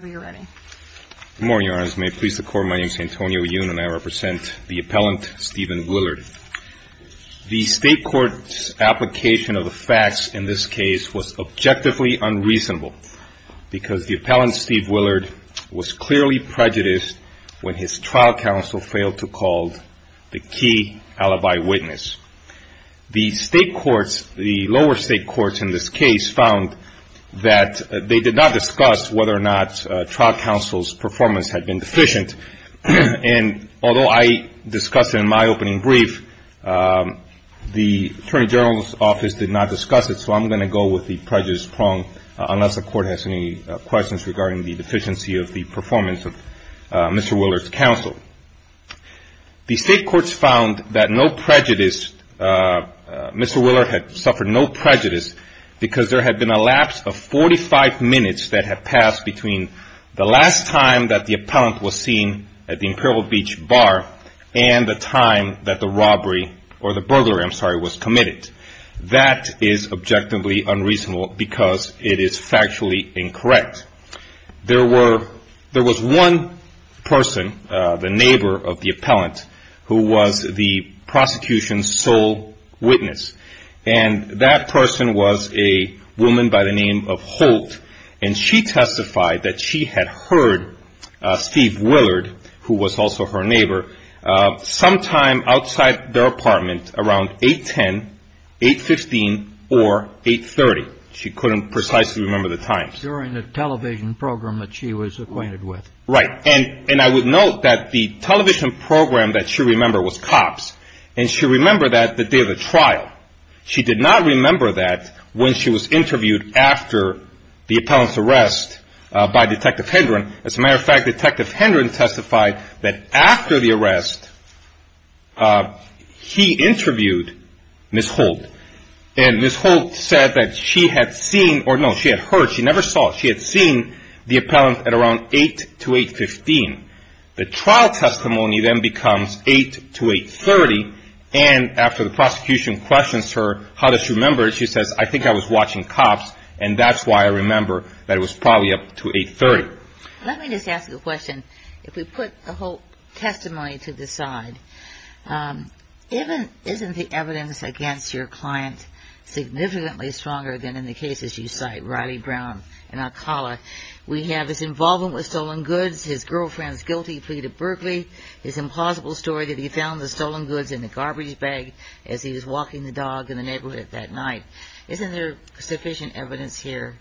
Good morning, Your Honors. May it please the Court, my name is Antonio Yun and I represent the Appellant Stephen Willard. The State Court's application of the facts in this case was objectively unreasonable because the Appellant Steve Willard was clearly prejudiced when his trial counsel failed to call the key alibi witness. The State Courts, the lower State Courts in this case, found that they did not discuss whether or not trial counsel's performance had been deficient. And although I discussed it in my opening brief, the Attorney General's Office did not discuss it, so I'm going to go with the prejudice prong unless the Court has any questions regarding the deficiency of the performance of Mr. Willard's counsel. The State Courts found that no prejudice, Mr. Willard had suffered no prejudice because there had been a lapse of 45 minutes that had passed between the last time that the Appellant was seen at the Imperial Beach Bar and the time that the robbery, or the burglary, I'm sorry, was committed. That is objectively unreasonable because it is factually incorrect. There was one person, the neighbor of the Appellant, who was the prosecution's sole witness. And that person was a woman by the name of Holt, and she testified that she had heard Steve Willard, who was also her neighbor, sometime outside their apartment around 810, 815, or 830. She couldn't precisely remember the times. During the television program that she was acquainted with. Right, and I would note that the television program that she remembered was COPS, and she remembered that the day of the trial. She did not remember that when she was interviewed after the Appellant's arrest by Detective Hendron. As a matter of fact, Detective Hendron testified that after the arrest, he interviewed Ms. Holt. And Ms. Holt said that she had seen, or no, she had heard, she never saw, she had seen the Appellant at around 8 to 815. The trial testimony then becomes 8 to 830, and after the prosecution questions her, how does she remember it, she says, I think I was watching COPS, and that's why I remember that it was probably up to 830. Let me just ask you a question. If we put the Holt testimony to the side, isn't the evidence against your client significantly stronger than in the cases you cite, Riley Brown and Alcala? We have his involvement with stolen goods, his girlfriend's guilty plea to Berkeley, his implausible story that he found the stolen goods in the garbage bag as he was walking the dog in the neighborhood that night. Isn't there sufficient evidence here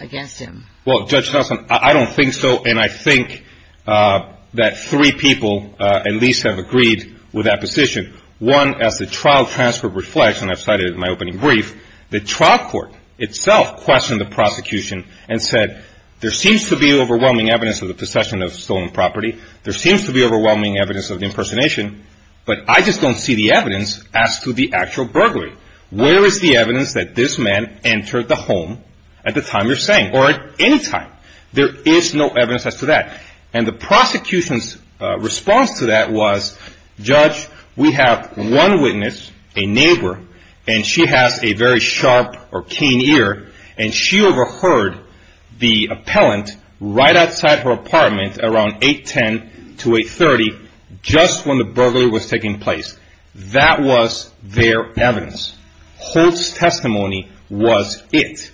against him? Well, Judge Nelson, I don't think so, and I think that three people at least have agreed with that position. One, as the trial transfer reflects, and I've cited it in my opening brief, the trial court itself questioned the prosecution and said, there seems to be overwhelming evidence of the possession of stolen property, there seems to be overwhelming evidence of the impersonation, but I just don't see the evidence as to the actual burglary. Where is the evidence that this man entered the home at the time you're saying, or at any time? There is no evidence as to that. And the prosecution's response to that was, Judge, we have one witness, a neighbor, and she has a very sharp or keen ear, and she overheard the appellant right outside her apartment around 810 to 830, just when the burglary was taking place. That was their evidence. Holt's testimony was it.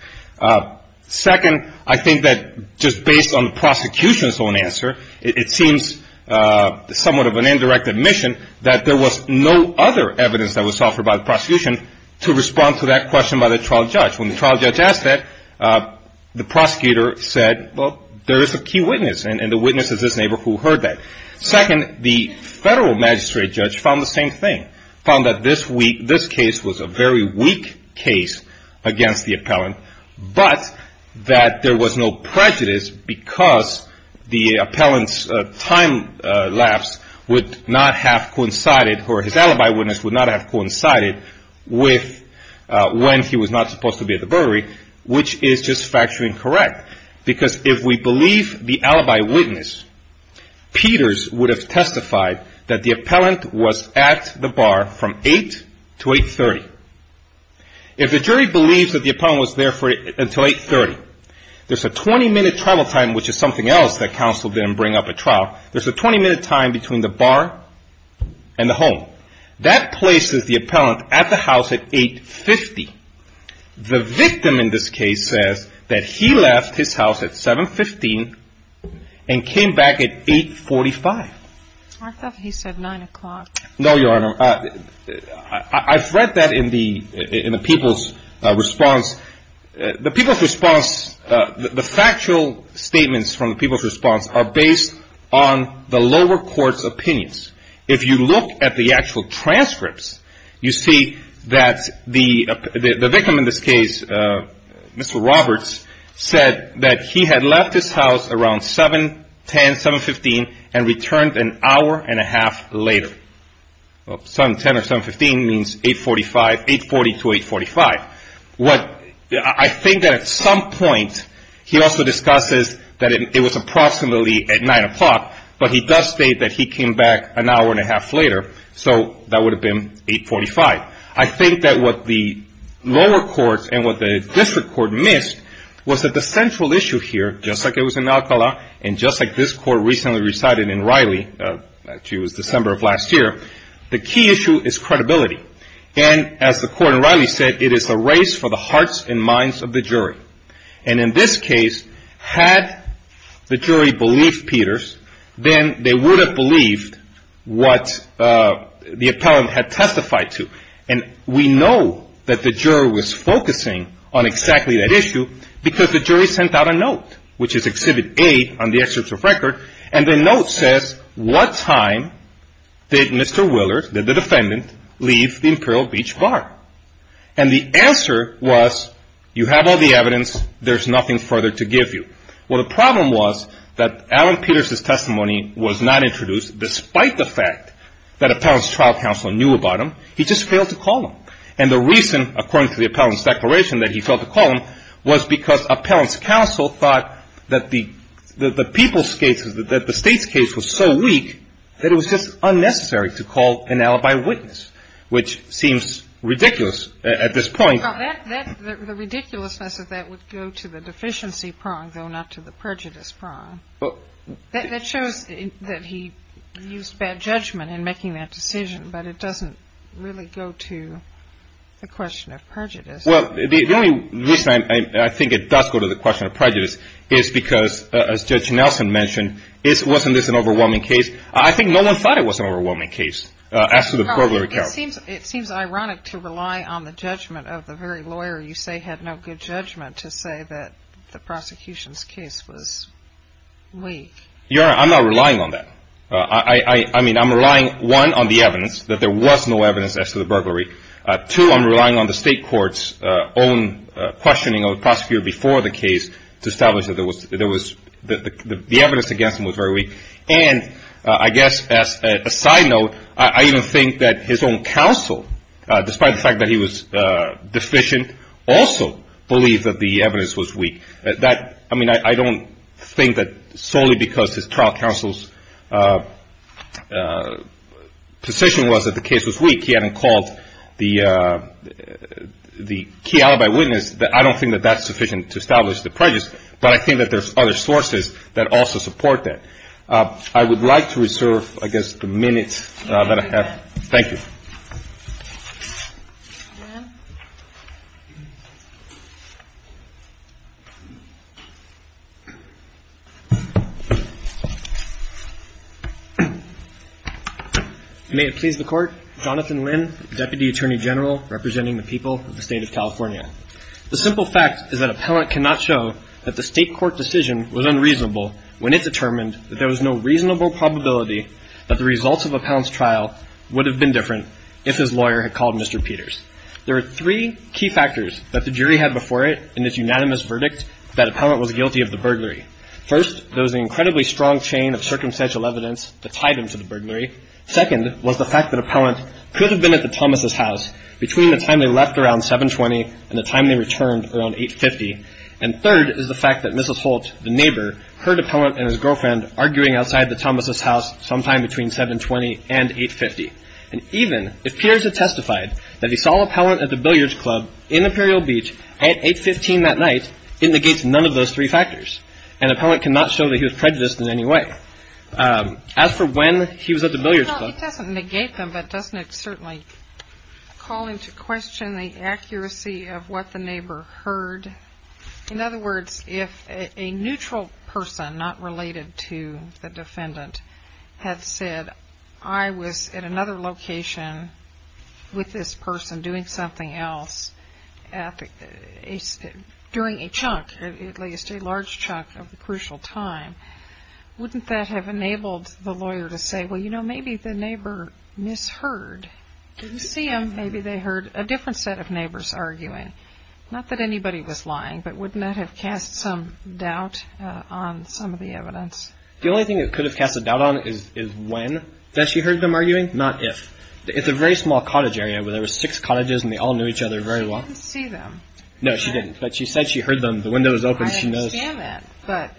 Second, I think that just based on the prosecution's own answer, it seems somewhat of an indirect admission that there was no other evidence that was offered by the prosecution to respond to that question by the trial judge. When the trial judge asked that, the prosecutor said, well, there is a key witness, and the witness is this neighbor who heard that. Second, the federal magistrate judge found the same thing, found that this case was a very weak case against the appellant, but that there was no prejudice because the appellant's time lapse would not have coincided, or his alibi witness would not have coincided, with when he was not supposed to be at the burglary, which is just factually incorrect. Because if we believe the alibi witness, Peters would have testified that the appellant was at the bar from 8 to 830. If the jury believes that the appellant was there until 830, there's a 20-minute trial time, which is something else that counsel didn't bring up at trial. There's a 20-minute time between the bar and the home. That places the appellant at the house at 850. The victim in this case says that he left his house at 715 and came back at 845. I thought he said 9 o'clock. No, Your Honor. I've read that in the people's response. The people's response, the factual statements from the people's response are based on the lower court's opinions. If you look at the actual transcripts, you see that the victim in this case, Mr. Roberts, said that he had left his house around 710, 715, and returned an hour and a half later. 710 or 715 means 840 to 845. I think that at some point, he also discusses that it was approximately at 9 o'clock, but he does state that he came back an hour and a half later, so that would have been 845. I think that what the lower court and what the district court missed was that the central issue here, just like it was in Alcala and just like this court recently resided in Riley, actually it was December of last year, the key issue is credibility. And as the court in Riley said, it is a race for the hearts and minds of the jury. And in this case, had the jury believed Peters, then they would have believed what the appellant had testified to. And we know that the jury was focusing on exactly that issue because the jury sent out a note, which is Exhibit A on the excerpt of record, and the note says, what time did Mr. Willard, the defendant, leave the Imperial Beach Bar? And the answer was, you have all the evidence, there's nothing further to give you. Well, the problem was that Alan Peters' testimony was not introduced despite the fact that appellant's trial counsel knew about him. He just failed to call him. And the reason, according to the appellant's declaration, that he failed to call him was because appellant's counsel thought that the people's case, that the state's case was so weak that it was just unnecessary to call an alibi witness, which seems ridiculous at this point. The ridiculousness of that would go to the deficiency prong, though not to the prejudice prong. That shows that he used bad judgment in making that decision, but it doesn't really go to the question of prejudice. Well, the only reason I think it does go to the question of prejudice is because, as Judge Nelson mentioned, wasn't this an overwhelming case? I think no one thought it was an overwhelming case as to the burglary. It seems ironic to rely on the judgment of the very lawyer you say had no good judgment to say that the prosecution's case was weak. Your Honor, I'm not relying on that. I mean, I'm relying, one, on the evidence, that there was no evidence as to the burglary. Two, I'm relying on the state court's own questioning of the prosecutor before the case to establish that the evidence against him was very weak. And I guess as a side note, I even think that his own counsel, despite the fact that he was deficient, also believed that the evidence was weak. I mean, I don't think that solely because his trial counsel's position was that the case was weak, he hadn't called the key alibi witness. I don't think that that's sufficient to establish the prejudice, but I think that there's other sources that also support that. I would like to reserve, I guess, the minute that I have. Thank you. May it please the Court, Jonathan Lynn, Deputy Attorney General representing the people of the State of California. The simple fact is that Appellant cannot show that the state court decision was unreasonable when it determined that there was no reasonable probability that the results of Appellant's trial would have been different if his lawyer had called Mr. Peters. There are three key factors that the jury had before it in this unanimous verdict that Appellant was guilty of the burglary. First, there was an incredibly strong chain of circumstantial evidence that tied him to the burglary. Second was the fact that Appellant could have been at the Thomas' house between the time they left around 720 and the time they returned around 850. And third is the fact that Mrs. Holt, the neighbor, heard Appellant and his girlfriend arguing outside the Thomas' house sometime between 720 and 850. And even if Peters had testified that he saw Appellant at the billiards club in Imperial Beach at 815 that night, it negates none of those three factors. And Appellant cannot show that he was prejudiced in any way. As for when he was at the billiards club... Well, it doesn't negate them, but doesn't it certainly call into question the accuracy of what the neighbor heard? In other words, if a neutral person not related to the defendant had said, I was at another location with this person doing something else during a chunk, at least a large chunk of the crucial time, wouldn't that have enabled the lawyer to say, well, you know, maybe the neighbor misheard? Didn't see them. Maybe they heard a different set of neighbors arguing. Not that anybody was lying, but wouldn't that have cast some doubt on some of the evidence? The only thing it could have cast a doubt on is when she heard them arguing, not if. It's a very small cottage area where there were six cottages and they all knew each other very well. I didn't see them. No, she didn't, but she said she heard them. The window was open. I understand that, but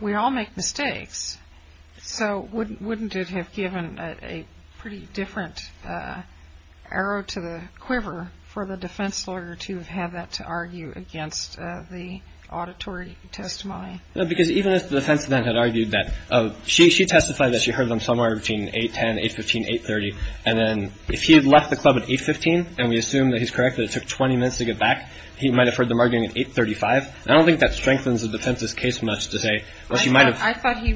we all make mistakes, so wouldn't it have given a pretty different arrow to the quiver for the defense lawyer to have had that to argue against the auditory testimony? No, because even if the defense then had argued that she testified that she heard them somewhere between 8.10, 8.15, 8.30, and then if he had left the club at 8.15 and we assume that he's correct that it took 20 minutes to get back, he might have heard them arguing at 8.35. I don't think that strengthens the defense's case much to say. I thought he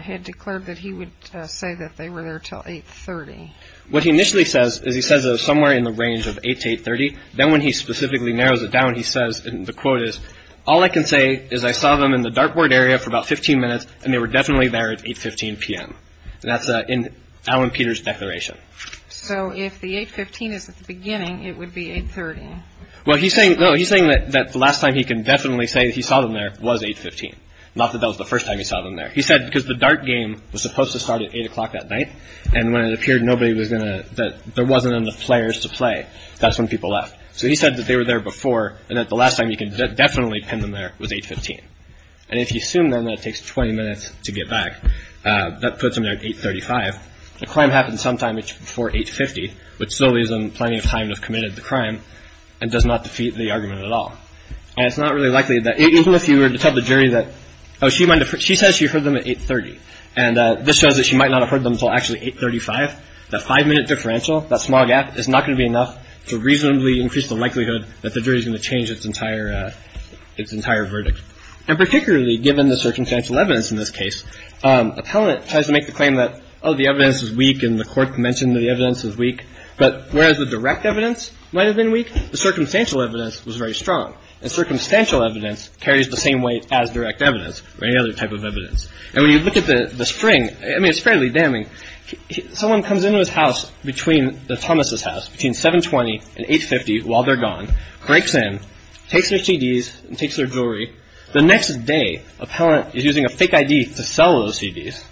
had declared that he would say that they were there until 8.30. What he initially says is he says somewhere in the range of 8.00 to 8.30. Then when he specifically narrows it down, he says, and the quote is, all I can say is I saw them in the dartboard area for about 15 minutes and they were definitely there at 8.15 p.m. That's in Alan Peter's declaration. So if the 8.15 is at the beginning, it would be 8.30. Well, he's saying that the last time he can definitely say that he saw them there was 8.15, not that that was the first time he saw them there. He said because the dart game was supposed to start at 8 o'clock that night. And when it appeared nobody was going to that there wasn't enough players to play, that's when people left. So he said that they were there before and that the last time you can definitely pin them there was 8.15. And if you assume then that it takes 20 minutes to get back, that puts him at 8.35. The crime happened sometime before 8.50, which still leaves him plenty of time to have committed the crime and does not defeat the argument at all. And it's not really likely that even if you were to tell the jury that, oh, she says she heard them at 8.30 and this shows that she might not have heard them until actually 8.35, that five minute differential, that small gap, is not going to be enough to reasonably increase the likelihood that the jury is going to change its entire verdict. And particularly given the circumstantial evidence in this case, appellant tries to make the claim that, oh, the evidence is weak and the court mentioned the evidence is weak. But whereas the direct evidence might have been weak, the circumstantial evidence was very strong. And circumstantial evidence carries the same weight as direct evidence or any other type of evidence. And when you look at the spring, I mean, it's fairly damning. Someone comes into his house between the Thomas's house between 7.20 and 8.50 while they're gone, breaks in, takes their CDs and takes their jewelry. The next day, appellant is using a fake ID to sell those CDs.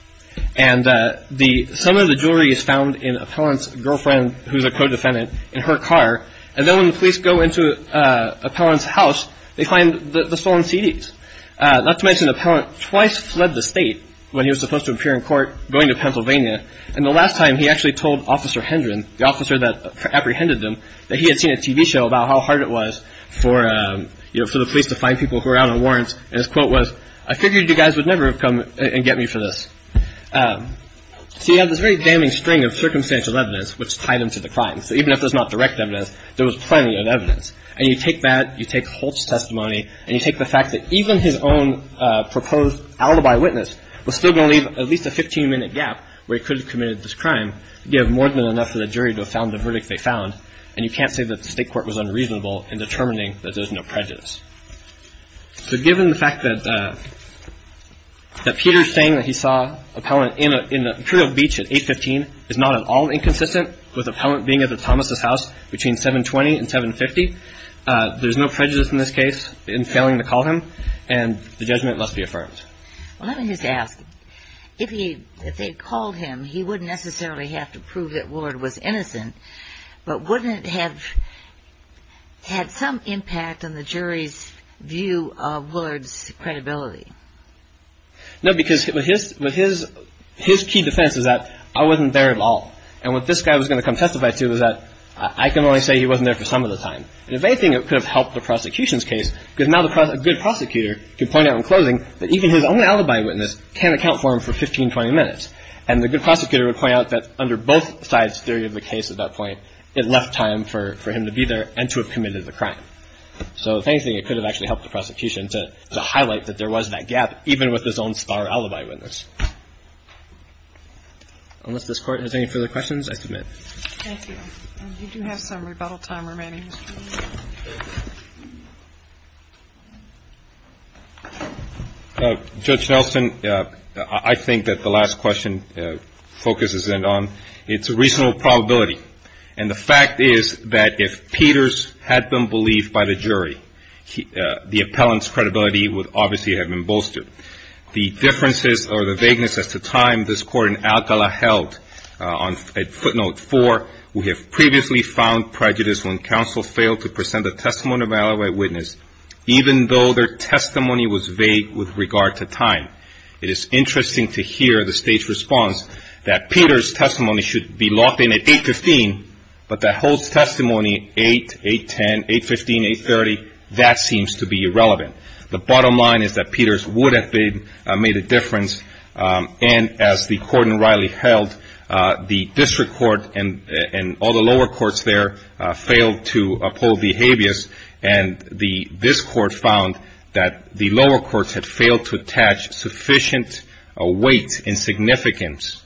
And some of the jewelry is found in appellant's girlfriend, who's a co-defendant, in her car. And then when the police go into appellant's house, they find the stolen CDs. Not to mention appellant twice fled the state when he was supposed to appear in court going to Pennsylvania. And the last time he actually told Officer Hendren, the officer that apprehended them, that he had seen a TV show about how hard it was for the police to find people who were out on warrants. And his quote was, I figured you guys would never have come and get me for this. So you have this very damning string of circumstantial evidence which tie them to the crime. So even if there's not direct evidence, there was plenty of evidence. And you take that, you take Holt's testimony, and you take the fact that even his own proposed alibi witness was still going to leave at least a 15-minute gap where he could have committed this crime, you have more than enough for the jury to have found the verdict they found. And you can't say that the state court was unreasonable in determining that there's no prejudice. So given the fact that Peter's saying that he saw appellant in the Imperial Beach at 8.15 is not at all inconsistent with appellant being at the Thomas' house between 7.20 and 7.50, there's no prejudice in this case in failing to call him, and the judgment must be affirmed. Well, let me just ask. If they had called him, he wouldn't necessarily have to prove that Willard was innocent, but wouldn't it have had some impact on the jury's view of Willard's credibility? No, because his key defense is that I wasn't there at all. And what this guy was going to come testify to was that I can only say he wasn't there for some of the time. And if anything, it could have helped the prosecution's case because now a good prosecutor can point out in closing that even his own alibi witness can't account for him for 15, 20 minutes. And the good prosecutor would point out that under both sides' theory of the case at that point, it left time for him to be there and to have committed the crime. So if anything, it could have actually helped the prosecution to highlight that there was that gap, even with his own star alibi witness. Unless this Court has any further questions, I submit. Thank you. We do have some rebuttal time remaining. Judge Nelson, I think that the last question focuses in on its reasonable probability. And the fact is that if Peters had been believed by the jury, the appellant's credibility would obviously have been bolstered. The differences or the vagueness as to time this Court in Alcala held on footnote 4, we have previously found prejudice when counsel failed to present a testimony of an alibi witness, even though their testimony was vague with regard to time. It is interesting to hear the State's response that Peters' testimony should be locked in at 8.15, but that Holt's testimony, 8, 8.10, 8.15, 8.30, that seems to be irrelevant. The bottom line is that Peters would have made a difference. And as the court in Riley held, the district court and all the lower courts there failed to uphold the habeas, and this Court found that the lower courts had failed to attach sufficient weight and significance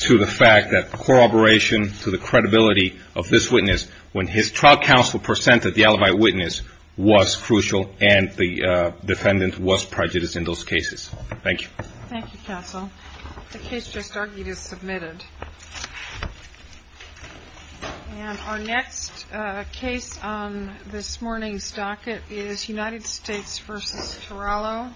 to the fact that to the credibility of this witness when his trial counsel presented the alibi witness was crucial and the defendant was prejudiced in those cases. Thank you. Thank you, counsel. The case just argued is submitted. And our next case on this morning's docket is United States v. Torello.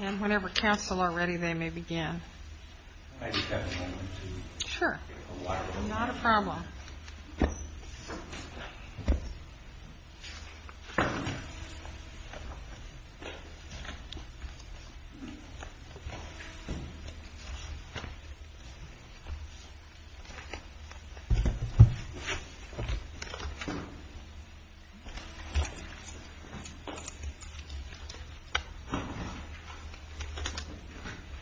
And whenever counsel are ready, they may begin. I just have a moment to take a walk. Thank you.